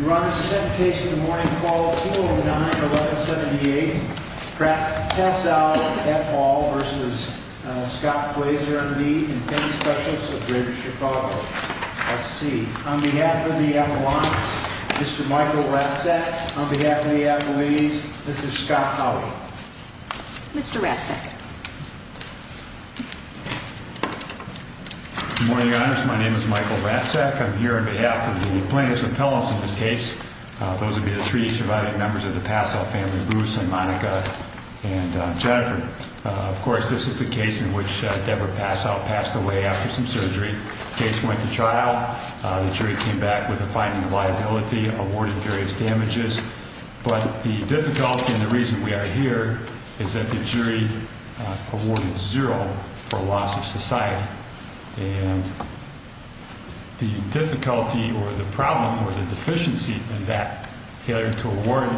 Your Honor, the second case of the morning, Fall 209-1178, Tassall v. F. Hall v. Scott Glaser v. Payne Specialists of Greater Chicago, SC. On behalf of the Appalachians, Mr. Michael Ratzak. On behalf of the Appalachians, Mr. Scott Howley. Mr. Ratzak. Good morning, Your Honor. My name is Michael Ratzak. I'm here on behalf of the plaintiffs' appellants in this case. Those would be the three surviving members of the Passow family, Bruce and Monica and Jennifer. Of course, this is the case in which Deborah Passow passed away after some surgery. The case went to trial. The jury came back with a finding of liability, awarded various damages. But the difficulty and the reason we are here is that the jury awarded zero for loss of society. And the difficulty or the problem or the deficiency in that failure to award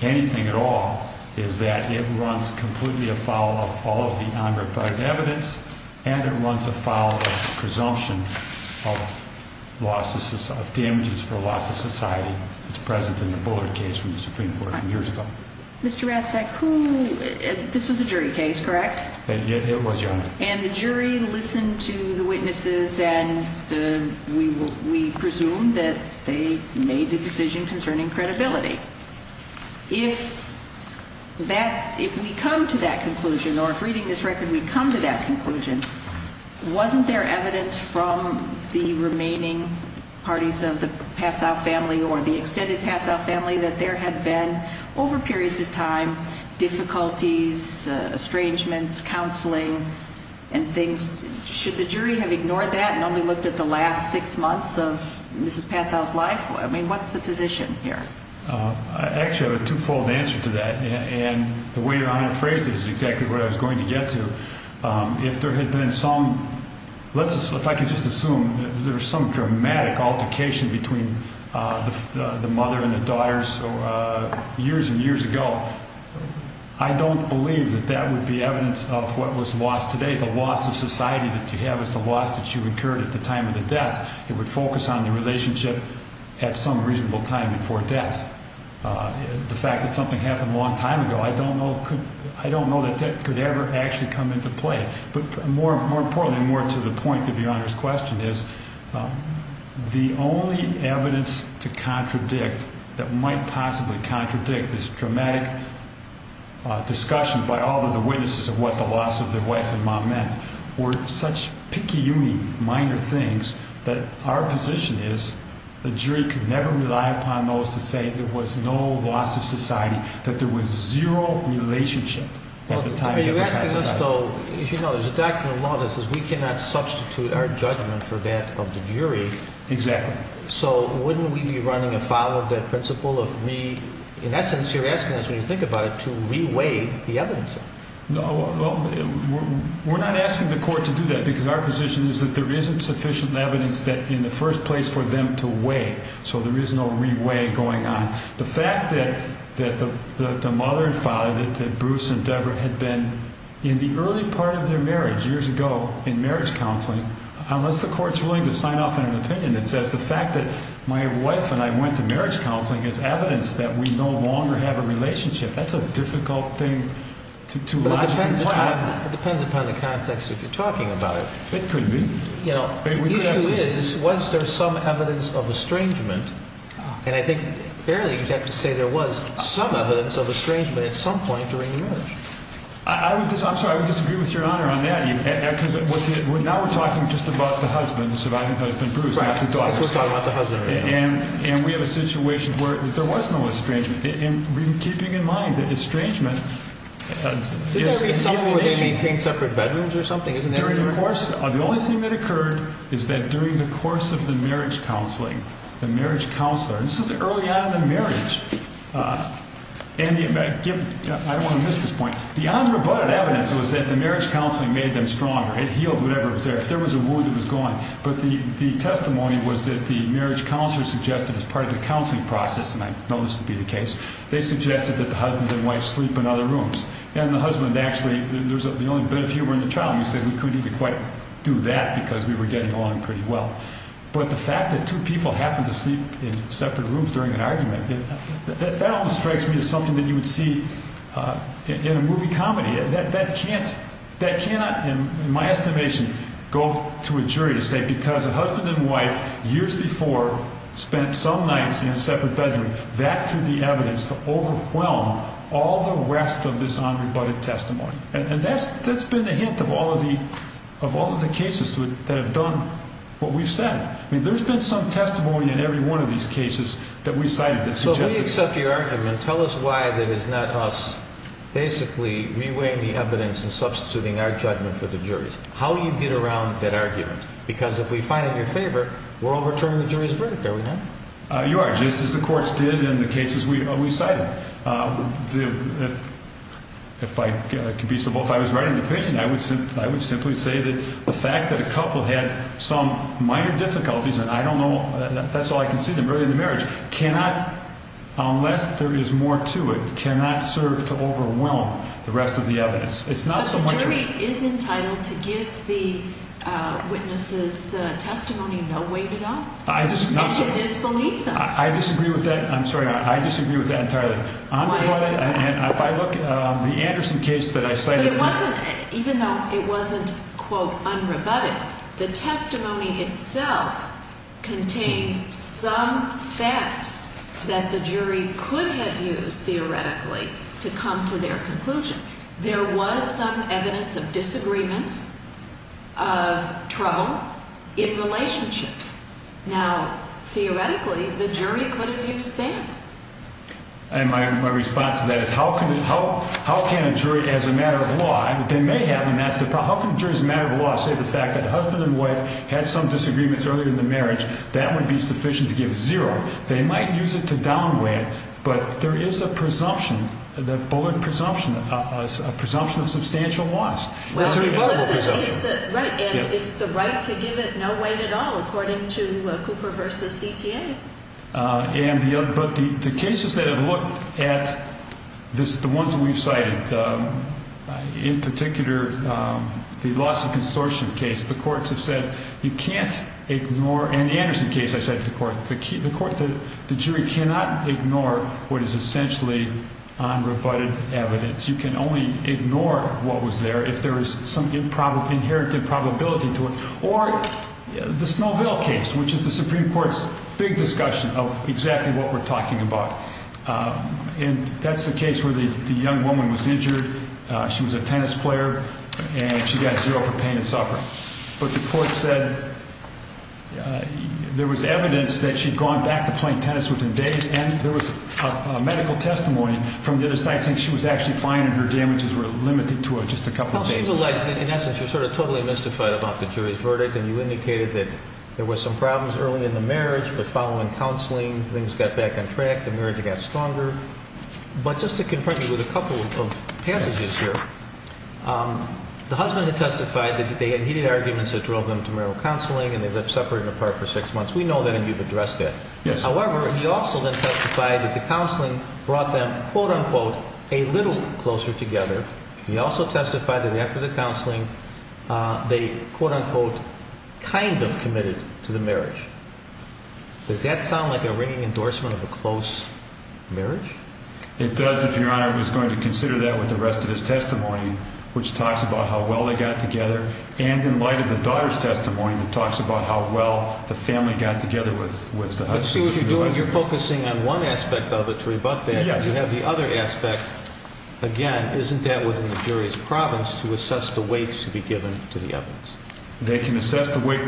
anything at all is that it runs completely afoul of all of the unreported evidence. And it runs afoul of presumption of damages for loss of society that's present in the Bullard case from the Supreme Court from years ago. Mr. Ratzak, this was a jury case, correct? It was, Your Honor. And the jury listened to the witnesses and we presume that they made the decision concerning credibility. If we come to that conclusion or if reading this record we come to that conclusion, wasn't there evidence from the remaining parties of the Passow family or the extended Passow family that there had been over periods of time difficulties, estrangements, counseling and things? Should the jury have ignored that and only looked at the last six months of Mrs. Passow's life? I mean, what's the position here? Actually, I have a twofold answer to that. And the way Your Honor phrased it is exactly what I was going to get to. If there had been some, if I could just assume, there was some dramatic altercation between the mother and the daughters years and years ago, I don't believe that that would be evidence of what was lost today. The loss of society that you have is the loss that you incurred at the time of the death. It would focus on the relationship at some reasonable time before death. The fact that something happened a long time ago, I don't know that that could ever actually come into play. But more importantly and more to the point of Your Honor's question is the only evidence to contradict, that might possibly contradict this dramatic discussion by all of the witnesses of what the loss of their wife and mom meant, were such picayune minor things that our position is the jury could never rely upon those to say there was no loss of society, that there was zero relationship at the time of the death of Mrs. Passow. Are you asking us though, as you know, there's a doctrine of law that says we cannot substitute our judgment for that of the jury. Exactly. So wouldn't we be running afoul of that principle of me, in essence you're asking us when you think about it, to re-weigh the evidence? No, we're not asking the court to do that because our position is that there isn't sufficient evidence that in the first place for them to weigh. So there is no re-weigh going on. The fact that the mother and father, that Bruce and Deborah had been in the early part of their marriage years ago in marriage counseling, unless the court's willing to sign off on an opinion that says the fact that my wife and I went to marriage counseling is evidence that we no longer have a relationship. That's a difficult thing to logically find. It depends upon the context that you're talking about. It could be. The issue is, was there some evidence of estrangement? And I think fairly you'd have to say there was some evidence of estrangement at some point during the marriage. I'm sorry, I would disagree with your Honor on that. Now we're talking just about the husband, the surviving husband, Bruce. We're talking about the husband. And we have a situation where there was no estrangement. And keeping in mind that estrangement is the only thing that occurred is that during the course of the marriage counseling, the marriage counselor, and this is early on in the marriage, and I don't want to miss this point. The unrebutted evidence was that the marriage counseling made them stronger. It healed whatever was there. If there was a wound, it was gone. But the testimony was that the marriage counselor suggested as part of the counseling process, and I know this would be the case, they suggested that the husband and wife sleep in other rooms. And the husband actually, there was the only bit of humor in the trial. He said we couldn't even quite do that because we were getting along pretty well. But the fact that two people happened to sleep in separate rooms during an argument, that almost strikes me as something that you would see in a movie comedy. That cannot, in my estimation, go to a jury to say because a husband and wife years before spent some nights in a separate bedroom, that could be evidence to overwhelm all the rest of this unrebutted testimony. And that's been a hint of all of the cases that have done what we've said. I mean, there's been some testimony in every one of these cases that we've cited that suggests that. Let me accept your argument. Tell us why it is not us basically reweighing the evidence and substituting our judgment for the jury's. How do you get around that argument? Because if we find it in your favor, we're overturning the jury's verdict, are we not? You are, just as the courts did in the cases we cited. If I could be so bold, if I was writing the opinion, I would simply say that the fact that a couple had some minor difficulties, and I don't know, that's all I can see them, early in the marriage, cannot, unless there is more to it, cannot serve to overwhelm the rest of the evidence. But the jury is entitled to give the witnesses' testimony no way to go? Absolutely. And to disbelieve them? I disagree with that. I'm sorry. I disagree with that entirely. Why is that? If I look at the Anderson case that I cited. Even though it wasn't, quote, unrebutted, the testimony itself contained some facts that the jury could have used, theoretically, to come to their conclusion. There was some evidence of disagreements, of trouble in relationships. Now, theoretically, the jury could have used that. And my response to that is, how can a jury, as a matter of law, and they may have, and that's the problem. How can a jury, as a matter of law, say the fact that the husband and wife had some disagreements earlier in the marriage, that would be sufficient to give zero? They might use it to downweigh it, but there is a presumption, the Bullard presumption, a presumption of substantial loss. Well, the Bullard presumption. Right, and it's the right to give it no way at all, according to Cooper v. CTA. But the cases that have looked at, the ones that we've cited, in particular, the Lawson Consortium case, the courts have said you can't ignore, and the Anderson case I cited to the court, the jury cannot ignore what is essentially unrebutted evidence. You can only ignore what was there if there is some inherited probability to it. Or the Snowville case, which is the Supreme Court's big discussion of exactly what we're talking about. And that's the case where the young woman was injured. She was a tennis player, and she got zero for pain and suffering. But the court said there was evidence that she'd gone back to playing tennis within days, and there was medical testimony from the other side saying she was actually fine and her damages were limited to just a couple of days. In essence, you're sort of totally mystified about the jury's verdict, and you indicated that there were some problems early in the marriage, but following counseling, things got back on track, the marriage got stronger. But just to confront you with a couple of passages here, the husband had testified that they had heated arguments that drove them to marital counseling, and they lived separate and apart for six months. We know that, and you've addressed that. However, he also then testified that the counseling brought them, quote, unquote, a little closer together. He also testified that after the counseling, they, quote, unquote, kind of committed to the marriage. Does that sound like a ringing endorsement of a close marriage? It does, if Your Honor was going to consider that with the rest of his testimony, which talks about how well they got together. And in light of the daughter's testimony, it talks about how well the family got together with the husband. I see what you're doing. You're focusing on one aspect of it to rebut that. Yes. You have the other aspect. Again, isn't that within the jury's province to assess the weight to be given to the evidence? They can assess the weight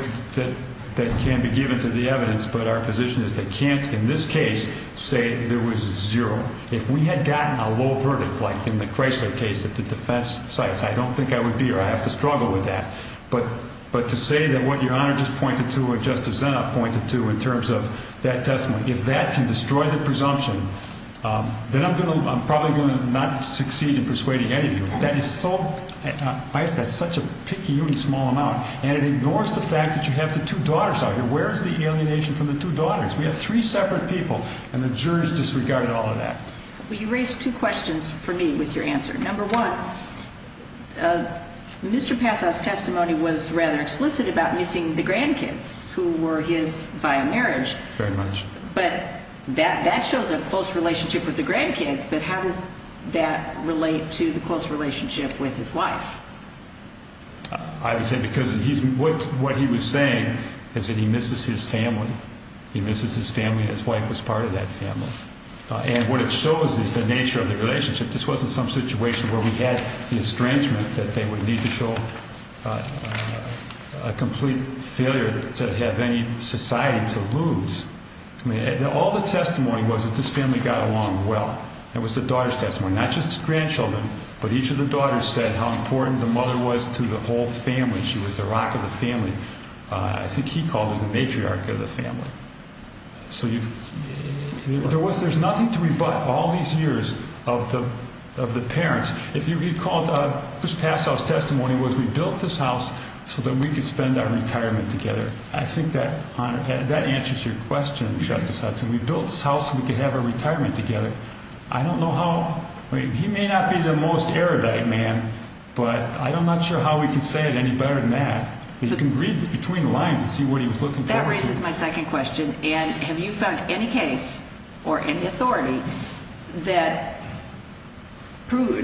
that can be given to the evidence, but our position is they can't, in this case, say there was zero. If we had gotten a low verdict, like in the Chrysler case at the defense sites, I don't think I would be here. I have to struggle with that. But to say that what Your Honor just pointed to or Justice Zinop pointed to in terms of that testimony, if that can destroy the presumption, then I'm probably going to not succeed in persuading any of you. That is such a picky, small amount, and it ignores the fact that you have the two daughters out here. Where is the alienation from the two daughters? We have three separate people, and the jurors disregarded all of that. Well, you raised two questions for me with your answer. Number one, Mr. Passau's testimony was rather explicit about missing the grandkids who were his via marriage. Very much. But that shows a close relationship with the grandkids, but how does that relate to the close relationship with his wife? I would say because what he was saying is that he misses his family. He misses his family, and his wife was part of that family. And what it shows is the nature of the relationship. This wasn't some situation where we had the estrangement that they would need to show a complete failure to have any society to lose. All the testimony was that this family got along well. It was the daughter's testimony. Not just his grandchildren, but each of the daughters said how important the mother was to the whole family. She was the rock of the family. I think he called her the matriarch of the family. There's nothing to rebut all these years of the parents. If you recall, Mr. Passau's testimony was we built this house so that we could spend our retirement together. I think that answers your question, Justice Hudson. We built this house so we could have our retirement together. I don't know how – he may not be the most Arabic man, but I'm not sure how we can say it any better than that. You can read between the lines and see what he was looking forward to. That raises my second question. Have you found any case or any authority that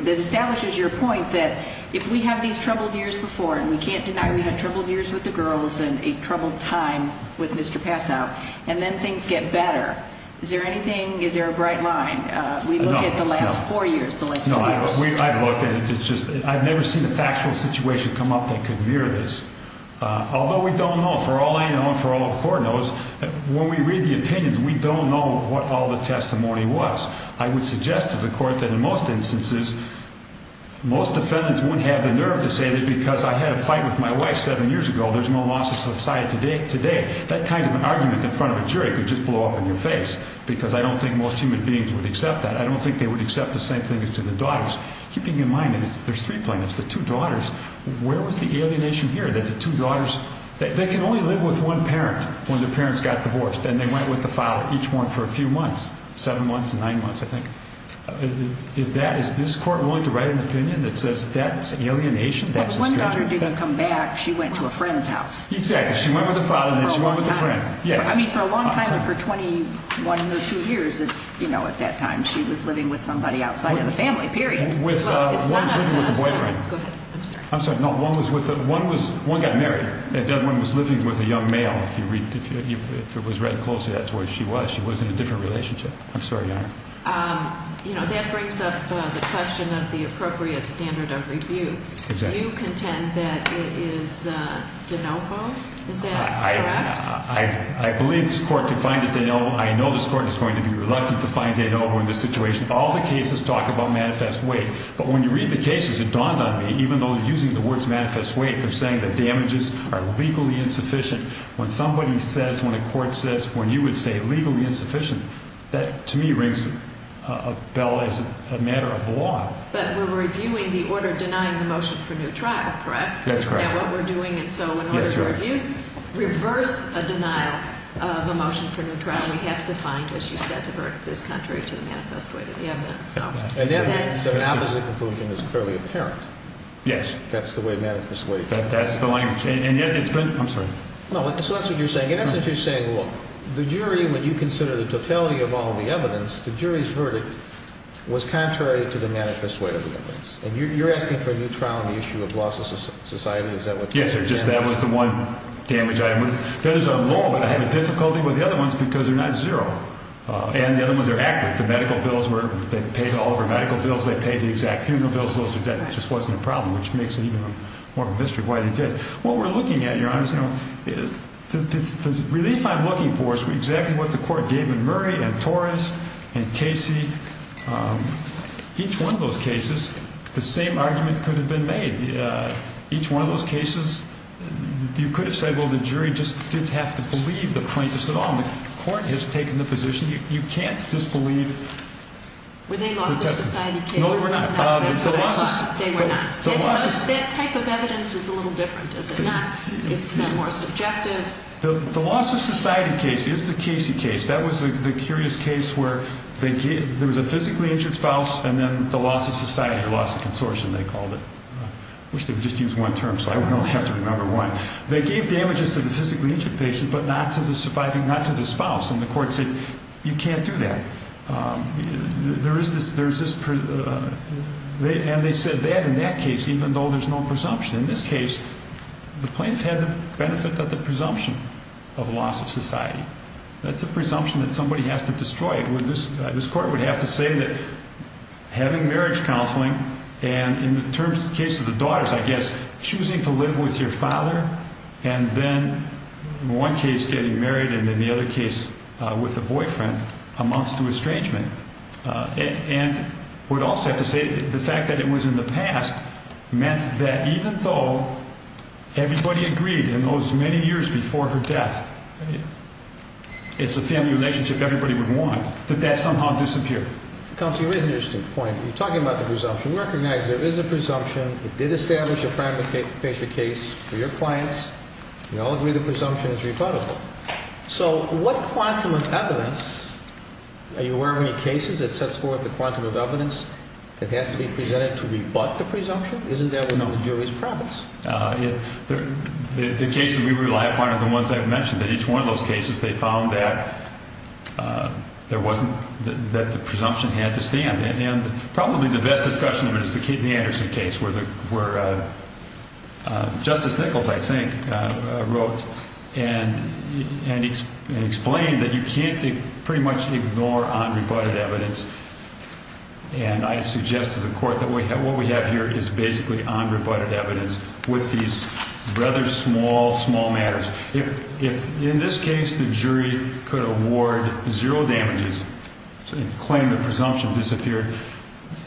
establishes your point that if we have these troubled years before, and we can't deny we had troubled years with the girls and a troubled time with Mr. Passau, and then things get better, is there anything, is there a bright line? We look at the last four years, the last two years. I've looked at it. I've never seen a factual situation come up that could mirror this. Although we don't know, for all I know and for all the court knows, when we read the opinions, we don't know what all the testimony was. I would suggest to the court that in most instances, most defendants wouldn't have the nerve to say that because I had a fight with my wife seven years ago, there's no loss of society today. That kind of argument in front of a jury could just blow up in your face because I don't think most human beings would accept that. I don't think they would accept the same thing as to the daughters. Keeping in mind that there's three plaintiffs, the two daughters, where was the alienation here that the two daughters, they can only live with one parent when their parents got divorced and they went with the father, each one for a few months, seven months, nine months, I think. Is that, is this court willing to write an opinion that says that's alienation? One daughter didn't come back. She went to a friend's house. Exactly. She went with the father and then she went with a friend. I mean, for a long time, for 21 or 22 years, you know, at that time, she was living with somebody outside of the family, period. Well, it's not up to us. One was living with a boyfriend. Go ahead. I'm sorry. I'm sorry. No, one was with a, one was, one got married. The other one was living with a young male. If you read, if it was read closely, that's where she was. She was in a different relationship. I'm sorry, Your Honor. You know, that brings up the question of the appropriate standard of review. Exactly. You contend that it is de novo. Is that correct? I believe this court defined it de novo. I know this court is going to be reluctant to find de novo in this situation. All the cases talk about manifest weight. But when you read the cases, it dawned on me, even though they're using the words manifest weight, they're saying that damages are legally insufficient. When somebody says, when a court says, when you would say legally insufficient, that to me rings a bell as a matter of law. But we're reviewing the order denying the motion for new trial, correct? That's right. Is that what we're doing? And so in order to reverse a denial of a motion for new trial, we have to find what you said the verdict is contrary to the manifest weight of the evidence. So an opposite conclusion is clearly apparent. Yes. That's the way manifest weight is. That's the language. And yet it's been – I'm sorry. No, that's what you're saying. In essence, you're saying, look, the jury, when you consider the totality of all the evidence, the jury's verdict was contrary to the manifest weight of the evidence. And you're asking for a new trial on the issue of loss of society? Is that what you're saying? Yes, Your Honor. Just that was the one damage item. I have a difficulty with the other ones because they're not zero. And the other ones are accurate. The medical bills were – they paid all of our medical bills. They paid the exact funeral bills. Those are dead. It just wasn't a problem, which makes it even more of a mystery why they did it. What we're looking at, Your Honor, is – the relief I'm looking for is exactly what the court gave in Murray and Torres and Casey. Each one of those cases, the same argument could have been made. Each one of those cases, you could have said, well, the jury just didn't have to believe the plaintiffs at all. The court has taken the position. You can't disbelieve – Were they loss-of-society cases? No, they were not. That's what I thought. They were not. That type of evidence is a little different, is it not? It's more subjective. The loss-of-society case is the Casey case. That was the curious case where there was a physically injured spouse and then the loss-of-society or loss-of-consortium, they called it. I wish they would just use one term, so I would only have to remember one. They gave damages to the physically injured patient but not to the surviving – not to the spouse. And the court said, you can't do that. There is this – And they said that in that case, even though there's no presumption. In this case, the plaintiff had the benefit of the presumption of loss-of-society. That's a presumption that somebody has to destroy. This court would have to say that having marriage counseling and, in the case of the daughters, I guess, choosing to live with your father and then, in one case, getting married and in the other case with a boyfriend amounts to estrangement. And we'd also have to say the fact that it was in the past meant that even though everybody agreed in those many years before her death, it's a family relationship everybody would want, that that somehow disappeared. Counselor, you raise an interesting point. You're talking about the presumption. We recognize there is a presumption. It did establish a primary patient case for your clients. We all agree the presumption is rebuttable. So what quantum of evidence – are you aware of any cases that sets forth the quantum of evidence that has to be presented to rebut the presumption? Isn't that one of the jury's profits? The cases we rely upon are the ones I've mentioned. In each one of those cases, they found that there wasn't – that the presumption had to stand. And probably the best discussion of it is the Kidney-Anderson case where Justice Nichols, I think, wrote and explained that you can't pretty much ignore unrebutted evidence. And I suggest to the Court that what we have here is basically unrebutted evidence with these rather small, small matters. If, in this case, the jury could award zero damages and claim the presumption disappeared,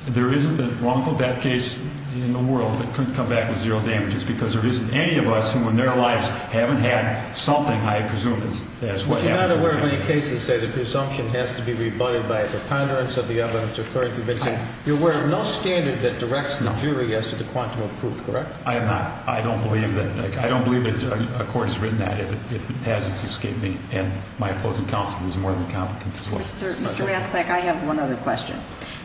there isn't a wrongful death case in the world that couldn't come back with zero damages because there isn't any of us who in their lives haven't had something, I presume, that's what happened to a patient. But you're not aware of any cases that say the presumption has to be rebutted by a preponderance of the evidence occurring. You're aware of no standard that directs the jury as to the quantum of proof, correct? I am not. I don't believe that. I don't believe that a court has written that if it hasn't escaped me. And my opposing counsel is more than competent to look at it. Mr. Rastak, I have one other question.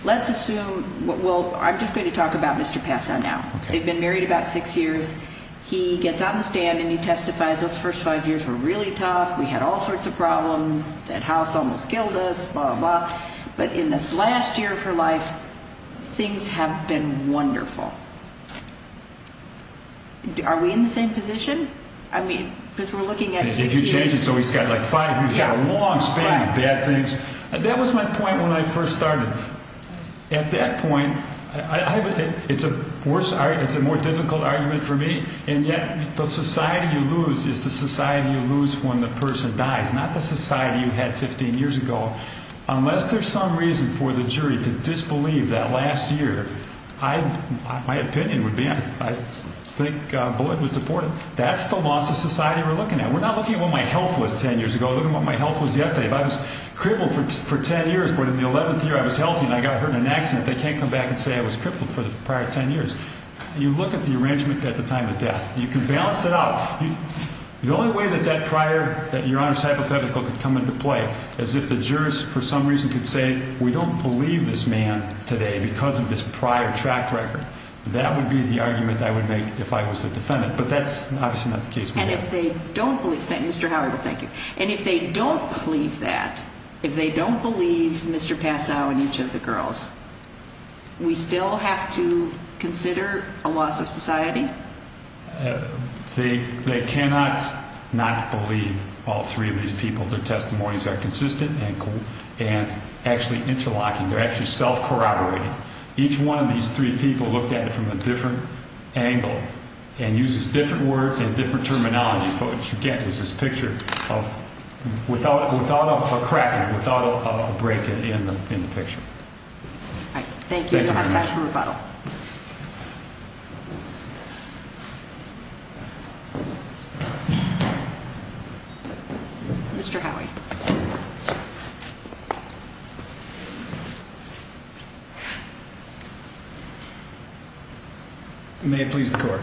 Let's assume – well, I'm just going to talk about Mr. Passon now. They've been married about six years. He gets on the stand and he testifies, those first five years were really tough. We had all sorts of problems. That house almost killed us, blah, blah. But in this last year of her life, things have been wonderful. Are we in the same position? I mean, because we're looking at six years. If you change it so he's got like five, he's got a long span of bad things. That was my point when I first started. At that point, it's a more difficult argument for me, and yet the society you lose is the society you lose when the person dies, not the society you had 15 years ago. Unless there's some reason for the jury to disbelieve that last year, my opinion would be – I think Bullitt was deported. That's the loss of society we're looking at. We're not looking at what my health was 10 years ago. We're looking at what my health was yesterday. If I was crippled for 10 years, but in the 11th year I was healthy and I got hurt in an accident, they can't come back and say I was crippled for the prior 10 years. You look at the arrangement at the time of death. You can balance it out. The only way that that prior – that Your Honor's hypothetical could come into play is if the jurors for some reason could say we don't believe this man today because of this prior track record. That would be the argument I would make if I was a defendant, but that's obviously not the case we have. And if they don't believe – Mr. Howard, thank you. And if they don't believe that, if they don't believe Mr. Passau and each of the girls, we still have to consider a loss of society? They cannot not believe all three of these people. Their testimonies are consistent and actually interlocking. They're actually self-corroborating. Each one of these three people looked at it from a different angle and uses different words and different terminology. What you get is this picture without a crack, without a break in the picture. Thank you. We'll have time for rebuttal. Mr. Howie. May it please the Court.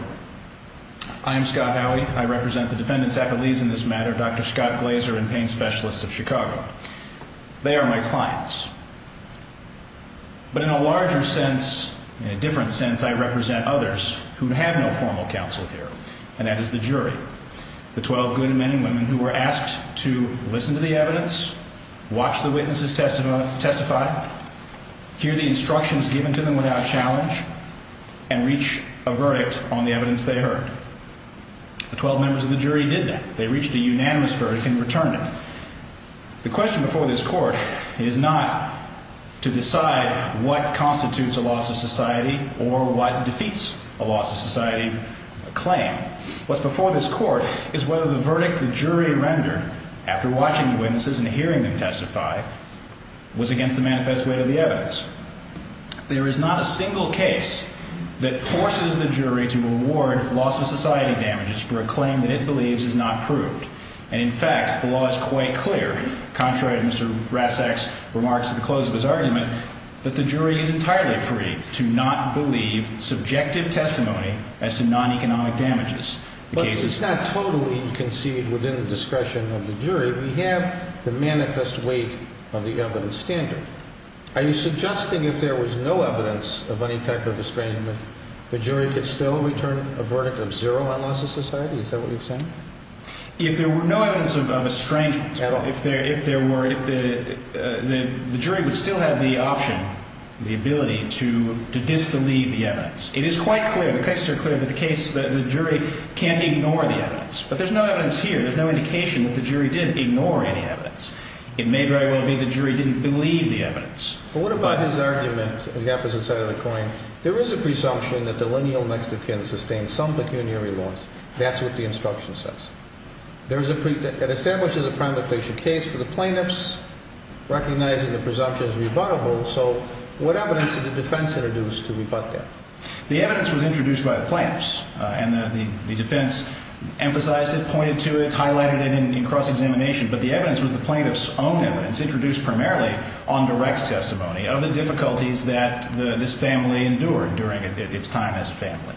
I am Scott Howie. I represent the defendants' affilies in this matter, Dr. Scott Glazer and pain specialists of Chicago. They are my clients. But in a larger sense, in a different sense, I represent others who have no formal counsel here, and that is the jury, the 12 good men and women who were asked to listen to the evidence, watch the witnesses testify, hear the instructions given to them without challenge, and reach a verdict on the evidence they heard. The 12 members of the jury did that. They reached a unanimous verdict and returned it. The question before this Court is not to decide what constitutes a loss of society or what defeats a loss of society claim. What's before this Court is whether the verdict the jury rendered after watching the witnesses and hearing them testify was against the manifest way of the evidence. There is not a single case that forces the jury to reward loss of society damages for a claim that it believes is not proved. And, in fact, the law is quite clear, contrary to Mr. Ratzak's remarks at the close of his argument, that the jury is entirely free to not believe subjective testimony as to non-economic damages. But this is not totally conceived within the discretion of the jury. We have the manifest weight of the evidence standard. Are you suggesting if there was no evidence of any type of estrangement the jury could still return a verdict of zero on loss of society? Is that what you're saying? If there were no evidence of estrangement, the jury would still have the option, the ability, to disbelieve the evidence. It is quite clear, the cases are clear, that the jury can ignore the evidence. But there's no evidence here. There's no indication that the jury did ignore any evidence. It may very well be the jury didn't believe the evidence. But what about his argument, the opposite side of the coin? There is a presumption that the lineal Mexican sustained some pecuniary loss. That's what the instruction says. It establishes a prima facie case for the plaintiffs, recognizing the presumption as rebuttable. So what evidence did the defense introduce to rebut that? The evidence was introduced by the plaintiffs, and the defense emphasized it, pointed to it, highlighted it in cross-examination. But the evidence was the plaintiff's own evidence, introduced primarily on direct testimony, of the difficulties that this family endured during its time as a family.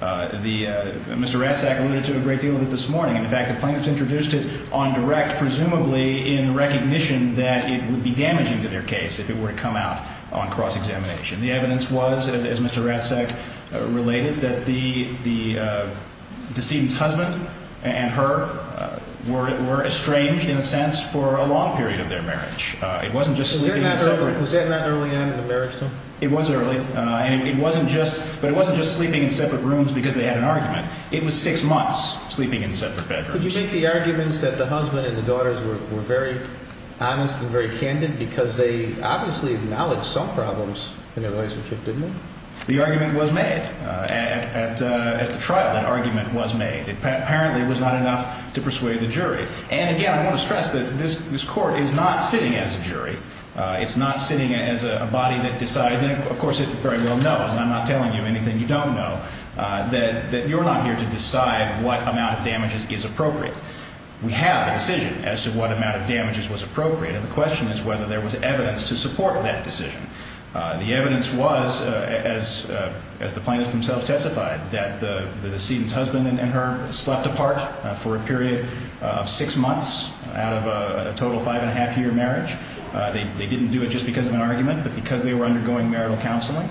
Mr. Ratzak alluded to it a great deal this morning. In fact, the plaintiffs introduced it on direct, presumably in recognition that it would be damaging to their case if it were to come out on cross-examination. The evidence was, as Mr. Ratzak related, that the decedent's husband and her were estranged, in a sense, for a long period of their marriage. It wasn't just sleeping in separate rooms. Was that not early on in the marriage, though? It was early, but it wasn't just sleeping in separate rooms because they had an argument. It was six months sleeping in separate bedrooms. Could you make the arguments that the husband and the daughters were very honest and very candid because they obviously acknowledged some problems in their relationship, didn't they? The argument was made at the trial. That argument was made. Apparently, it was not enough to persuade the jury. And again, I want to stress that this Court is not sitting as a jury. It's not sitting as a body that decides, and of course it very well knows, and I'm not telling you anything you don't know, that you're not here to decide what amount of damages is appropriate. We have a decision as to what amount of damages was appropriate, and the question is whether there was evidence to support that decision. The evidence was, as the plaintiffs themselves testified, that the decedent's husband and her slept apart for a period of six months out of a total five-and-a-half-year marriage. They didn't do it just because of an argument, but because they were undergoing marital counseling.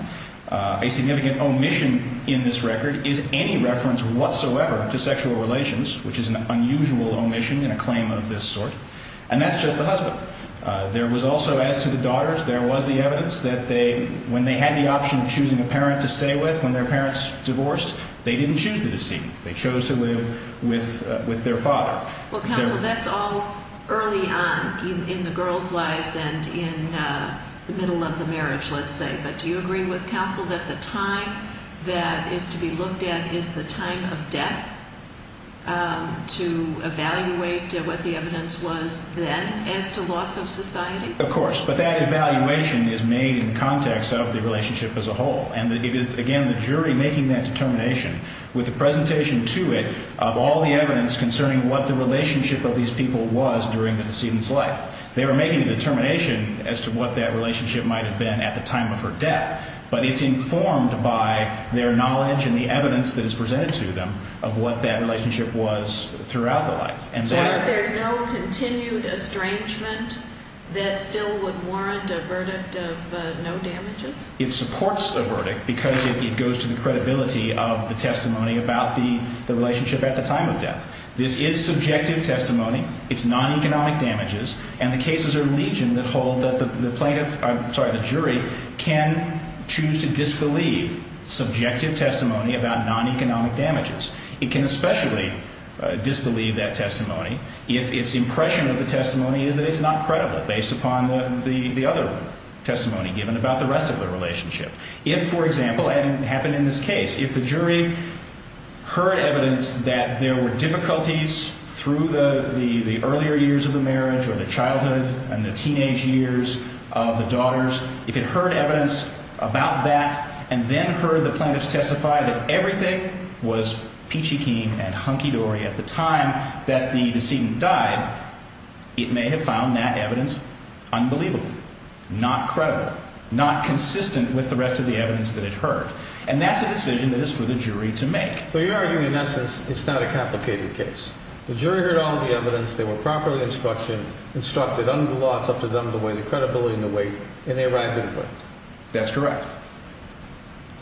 A significant omission in this record is any reference whatsoever to sexual relations, which is an unusual omission in a claim of this sort, and that's just the husband. There was also, as to the daughters, there was the evidence that they, when they had the option of choosing a parent to stay with when their parents divorced, they didn't choose the decedent. They chose to live with their father. Well, counsel, that's all early on in the girls' lives and in the middle of the marriage, let's say. But do you agree with counsel that the time that is to be looked at is the time of death to evaluate what the evidence was then as to loss of society? Of course. But that evaluation is made in context of the relationship as a whole, and it is, again, the jury making that determination with a presentation to it of all the evidence concerning what the relationship of these people was during the decedent's life. They were making a determination as to what that relationship might have been at the time of her death, but it's informed by their knowledge and the evidence that is presented to them of what that relationship was throughout the life. So there's no continued estrangement that still would warrant a verdict of no damages? It supports a verdict because it goes to the credibility of the testimony about the relationship at the time of death. This is subjective testimony. It's non-economic damages, and the cases are legion that hold that the plaintiff, I'm sorry, the jury can choose to disbelieve subjective testimony about non-economic damages. It can especially disbelieve that testimony if its impression of the testimony is that it's not credible based upon the other testimony given about the rest of the relationship. If, for example, and it happened in this case, if the jury heard evidence that there were difficulties through the earlier years of the marriage or the childhood and the teenage years of the daughters, if it heard evidence about that and then heard the plaintiffs testify that everything was peachy keen and hunky-dory at the time that the decedent died, it may have found that evidence unbelievable, not credible, not consistent with the rest of the evidence that it heard. And that's a decision that is for the jury to make. So you're arguing in essence it's not a complicated case. The jury heard all the evidence, they were properly instructed, instructed under the laws up to them the way the credibility and the weight, and they arrived at a point. That's correct.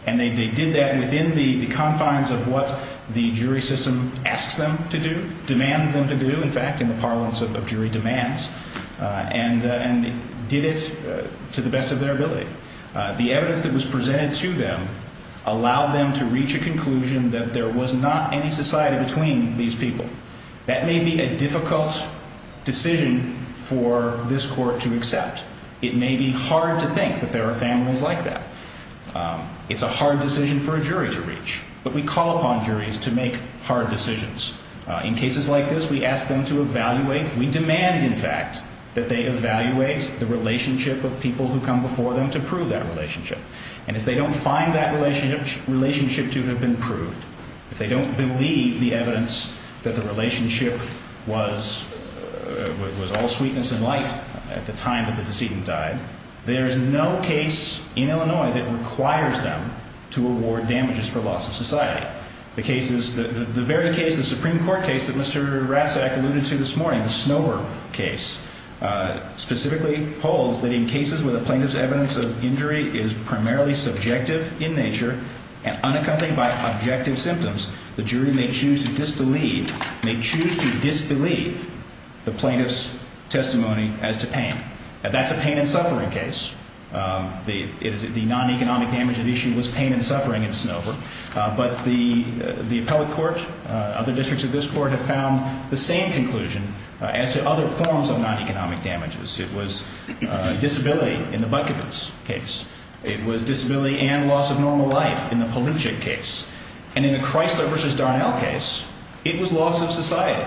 And they did that within the confines of what the jury system asks them to do, demands them to do, in fact, in the parlance of jury demands, and did it to the best of their ability. The evidence that was presented to them allowed them to reach a conclusion that there was not any society between these people. That may be a difficult decision for this court to accept. It may be hard to think that there are families like that. It's a hard decision for a jury to reach. But we call upon juries to make hard decisions. In cases like this, we ask them to evaluate, we demand, in fact, that they evaluate the relationship of people who come before them to prove that relationship. And if they don't find that relationship to have been proved, if they don't believe the evidence that the relationship was all sweetness and light at the time that the decedent died, there is no case in Illinois that requires them to award damages for loss of society. The very case, the Supreme Court case that Mr. Ratzak alluded to this morning, the Snover case, specifically holds that in cases where the plaintiff's evidence of injury is primarily subjective in nature and unaccompanied by objective symptoms, the jury may choose to disbelieve the plaintiff's testimony as to pain. That's a pain and suffering case. The non-economic damage at issue was pain and suffering in Snover. But the appellate court, other districts of this court, have found the same conclusion as to other forms of non-economic damages. It was disability in the Butkovitz case. It was disability and loss of normal life in the Palinchik case. And in the Chrysler v. Darnell case, it was loss of society,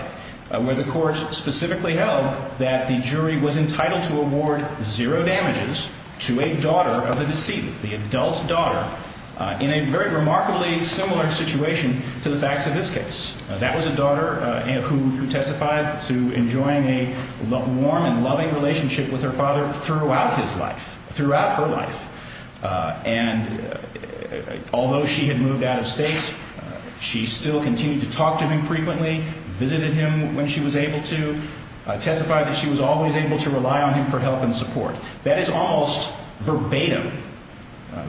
where the court specifically held that the jury was entitled to award zero damages to a daughter of the decedent, the adult daughter, in a very remarkably similar situation to the facts of this case. That was a daughter who testified to enjoying a warm and loving relationship with her father throughout his life, throughout her life. And although she had moved out of state, she still continued to talk to him frequently, visited him when she was able to, testified that she was always able to rely on him for help and support. That is almost verbatim,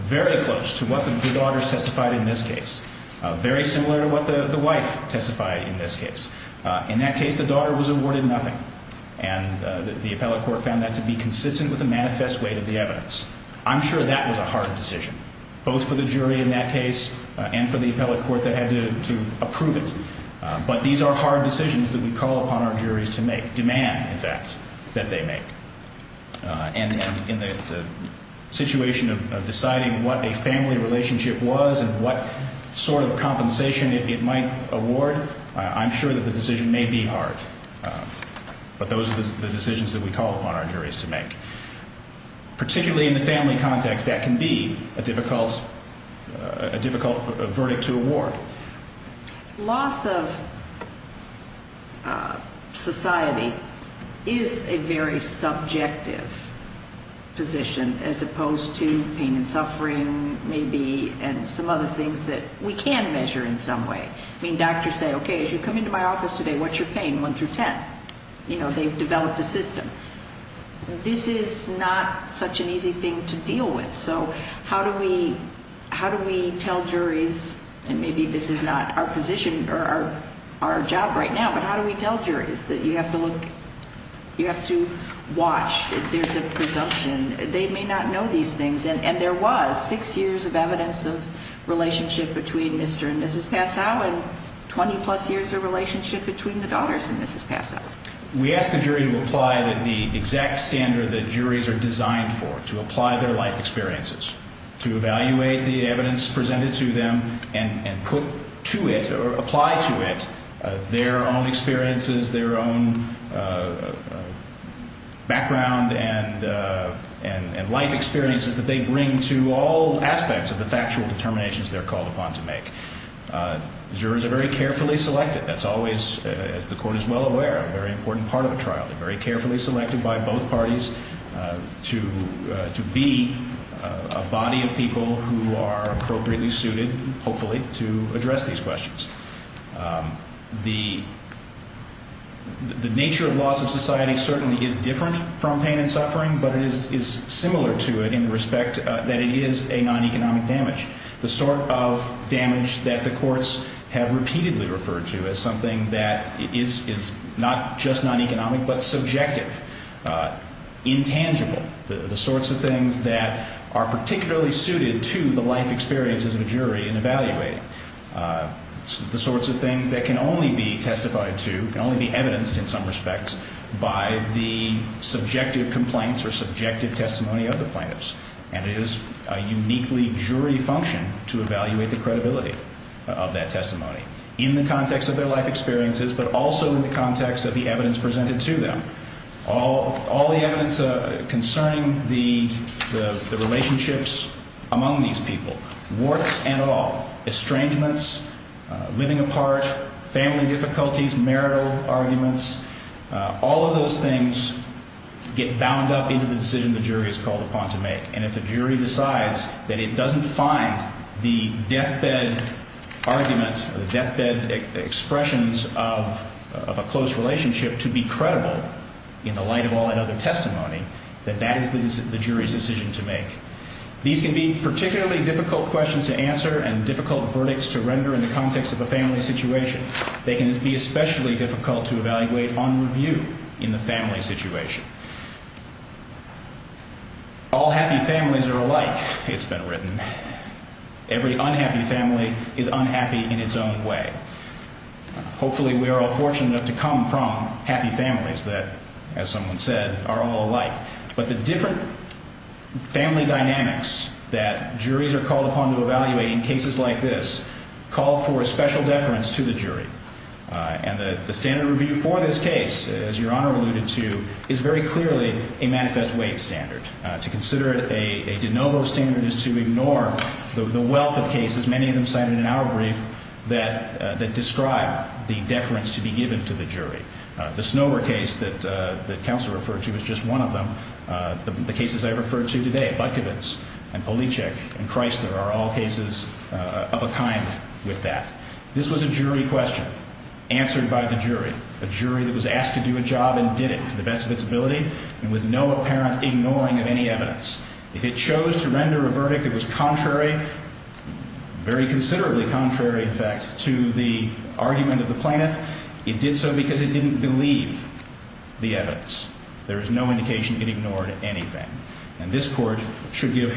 very close to what the daughters testified in this case, very similar to what the wife testified in this case. In that case, the daughter was awarded nothing, and the appellate court found that to be consistent with the manifest weight of the evidence. I'm sure that was a hard decision, both for the jury in that case and for the appellate court that had to approve it. But these are hard decisions that we call upon our juries to make, demand, in fact, that they make. And in the situation of deciding what a family relationship was and what sort of compensation it might award, I'm sure that the decision may be hard. But those are the decisions that we call upon our juries to make. Particularly in the family context, that can be a difficult verdict to award. Loss of society is a very subjective position as opposed to pain and suffering, maybe, and some other things that we can measure in some way. I mean, doctors say, okay, as you come into my office today, what's your pain, 1 through 10? You know, they've developed a system. This is not such an easy thing to deal with. So how do we tell juries, and maybe this is not our position or our job right now, but how do we tell juries that you have to look, you have to watch if there's a presumption. They may not know these things. And there was six years of evidence of relationship between Mr. and Mrs. Passau and 20-plus years of relationship between the daughters and Mrs. Passau. We ask the jury to apply the exact standard that juries are designed for, to apply their life experiences, to evaluate the evidence presented to them and put to it or apply to it their own experiences, their own background and life experiences that they bring to all aspects of the factual determinations they're called upon to make. Jurors are very carefully selected. That's always, as the Court is well aware, a very important part of a trial. They're very carefully selected by both parties to be a body of people who are appropriately suited, hopefully, to address these questions. The nature of loss of society certainly is different from pain and suffering, but it is similar to it in the respect that it is a non-economic damage, the sort of damage that the courts have repeatedly referred to as something that is not just non-economic but subjective, intangible, the sorts of things that are particularly suited to the life experiences of a jury and evaluate, the sorts of things that can only be testified to, can only be evidenced in some respects, by the subjective complaints or subjective testimony of the plaintiffs. And it is a uniquely jury function to evaluate the credibility of that testimony in the context of their life experiences but also in the context of the evidence presented to them. All the evidence concerning the relationships among these people, warts and all, estrangements, living apart, family difficulties, marital arguments, all of those things get bound up into the decision the jury is called upon to make. And if the jury decides that it doesn't find the deathbed argument or the deathbed expressions of a close relationship to be credible in the light of all that other testimony, then that is the jury's decision to make. These can be particularly difficult questions to answer and difficult verdicts to render in the context of a family situation. They can be especially difficult to evaluate on review in the family situation. All happy families are alike, it's been written. Every unhappy family is unhappy in its own way. Hopefully we are all fortunate enough to come from happy families that, as someone said, are all alike. But the different family dynamics that juries are called upon to evaluate in cases like this call for a special deference to the jury. And the standard review for this case, as Your Honor alluded to, is very clearly a manifest weight standard. To consider it a de novo standard is to ignore the wealth of cases, many of them cited in our brief, that describe the deference to be given to the jury. The Snower case that Counselor referred to is just one of them. The cases I referred to today, Budkovitz and Poliček and Chrysler, are all cases of a kind with that. This was a jury question answered by the jury, a jury that was asked to do a job and did it to the best of its ability and with no apparent ignoring of any evidence. If it chose to render a verdict that was contrary, very considerably contrary, in fact, to the argument of the plaintiff, it did so because it didn't believe the evidence. There is no indication it ignored anything. And this Court should give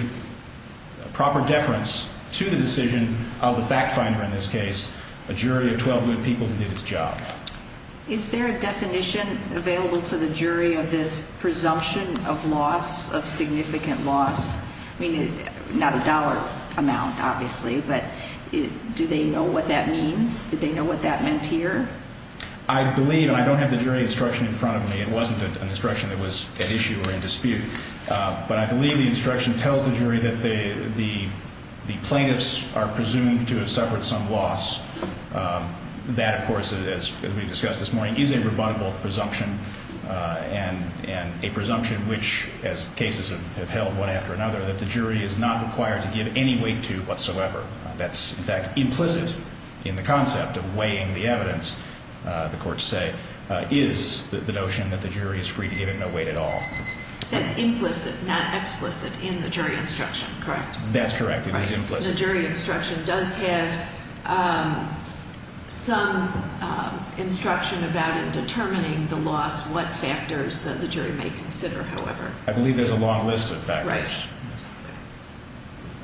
proper deference to the decision of the fact finder in this case, a jury of 12 good people, to do its job. Is there a definition available to the jury of this presumption of loss, of significant loss? I mean, not a dollar amount, obviously, but do they know what that means? Do they know what that meant here? I believe, and I don't have the jury instruction in front of me. It wasn't an instruction that was at issue or in dispute. But I believe the instruction tells the jury that the plaintiffs are presumed to have suffered some loss. That, of course, as we discussed this morning, is a rebuttable presumption and a presumption which, as cases have held one after another, that the jury is not required to give any weight to whatsoever. That's, in fact, implicit in the concept of weighing the evidence, the courts say, is the notion that the jury is free to give it no weight at all. That's implicit, not explicit, in the jury instruction, correct? That's correct. It is implicit. The jury instruction does have some instruction about it determining the loss, what factors the jury may consider, however. I believe there's a long list of factors. Right.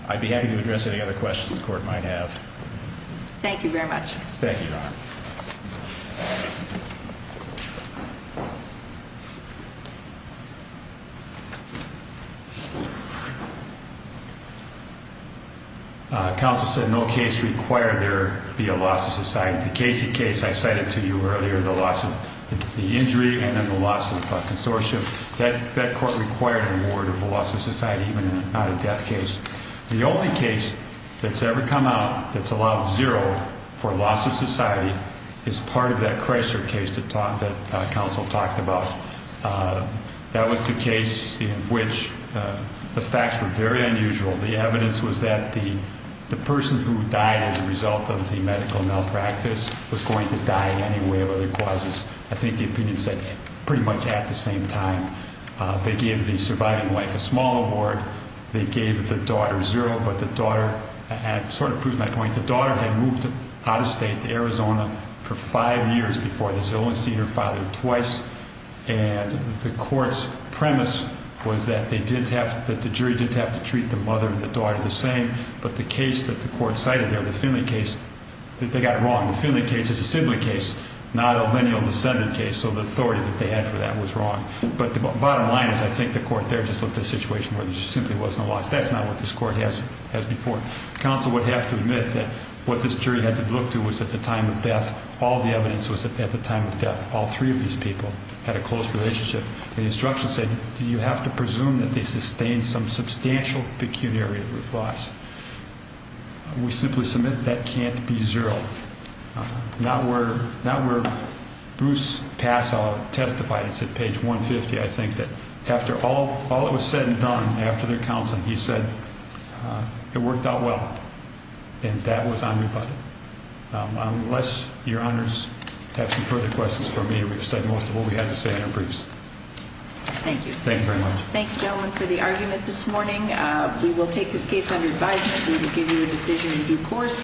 I'd be happy to address any other questions the Court might have. Thank you, Your Honor. Counsel said no case required there be a loss of society. The Casey case I cited to you earlier, the loss of the injury and then the loss of consortium, that court required a reward of a loss of society, even if not a death case. The only case that's ever come out that's allowed zero for loss of society is part of that Chrysler case that counsel talked about. That was the case in which the facts were very unusual. The evidence was that the person who died as a result of the medical malpractice was going to die in any way of other causes. I think the opinion said pretty much at the same time. They gave the surviving wife a small award. They gave the daughter zero, but the daughter had sort of proved my point. The daughter had moved out of state to Arizona for five years before this. They'd only seen her father twice. And the court's premise was that the jury did have to treat the mother and the daughter the same. But the case that the court cited there, the Finley case, they got it wrong. The Finley case is a sibling case, not a lineal descendant case, so the authority that they had for that was wrong. But the bottom line is I think the court there just looked at a situation where there simply wasn't a loss. That's not what this court has before. Counsel would have to admit that what this jury had to look to was at the time of death. All the evidence was at the time of death. All three of these people had a close relationship. The instruction said you have to presume that they sustained some substantial pecuniary loss. We simply submit that can't be zero. Not where Bruce Passau testified. It's at page 150, I think, that after all that was said and done after their counseling, he said it worked out well. And that was on your budget. Unless your honors have some further questions for me, we've said most of what we had to say in our briefs. Thank you. Thank you very much. Thank you, gentlemen, for the argument this morning. We will take this case under advisement. We will give you a decision in due course.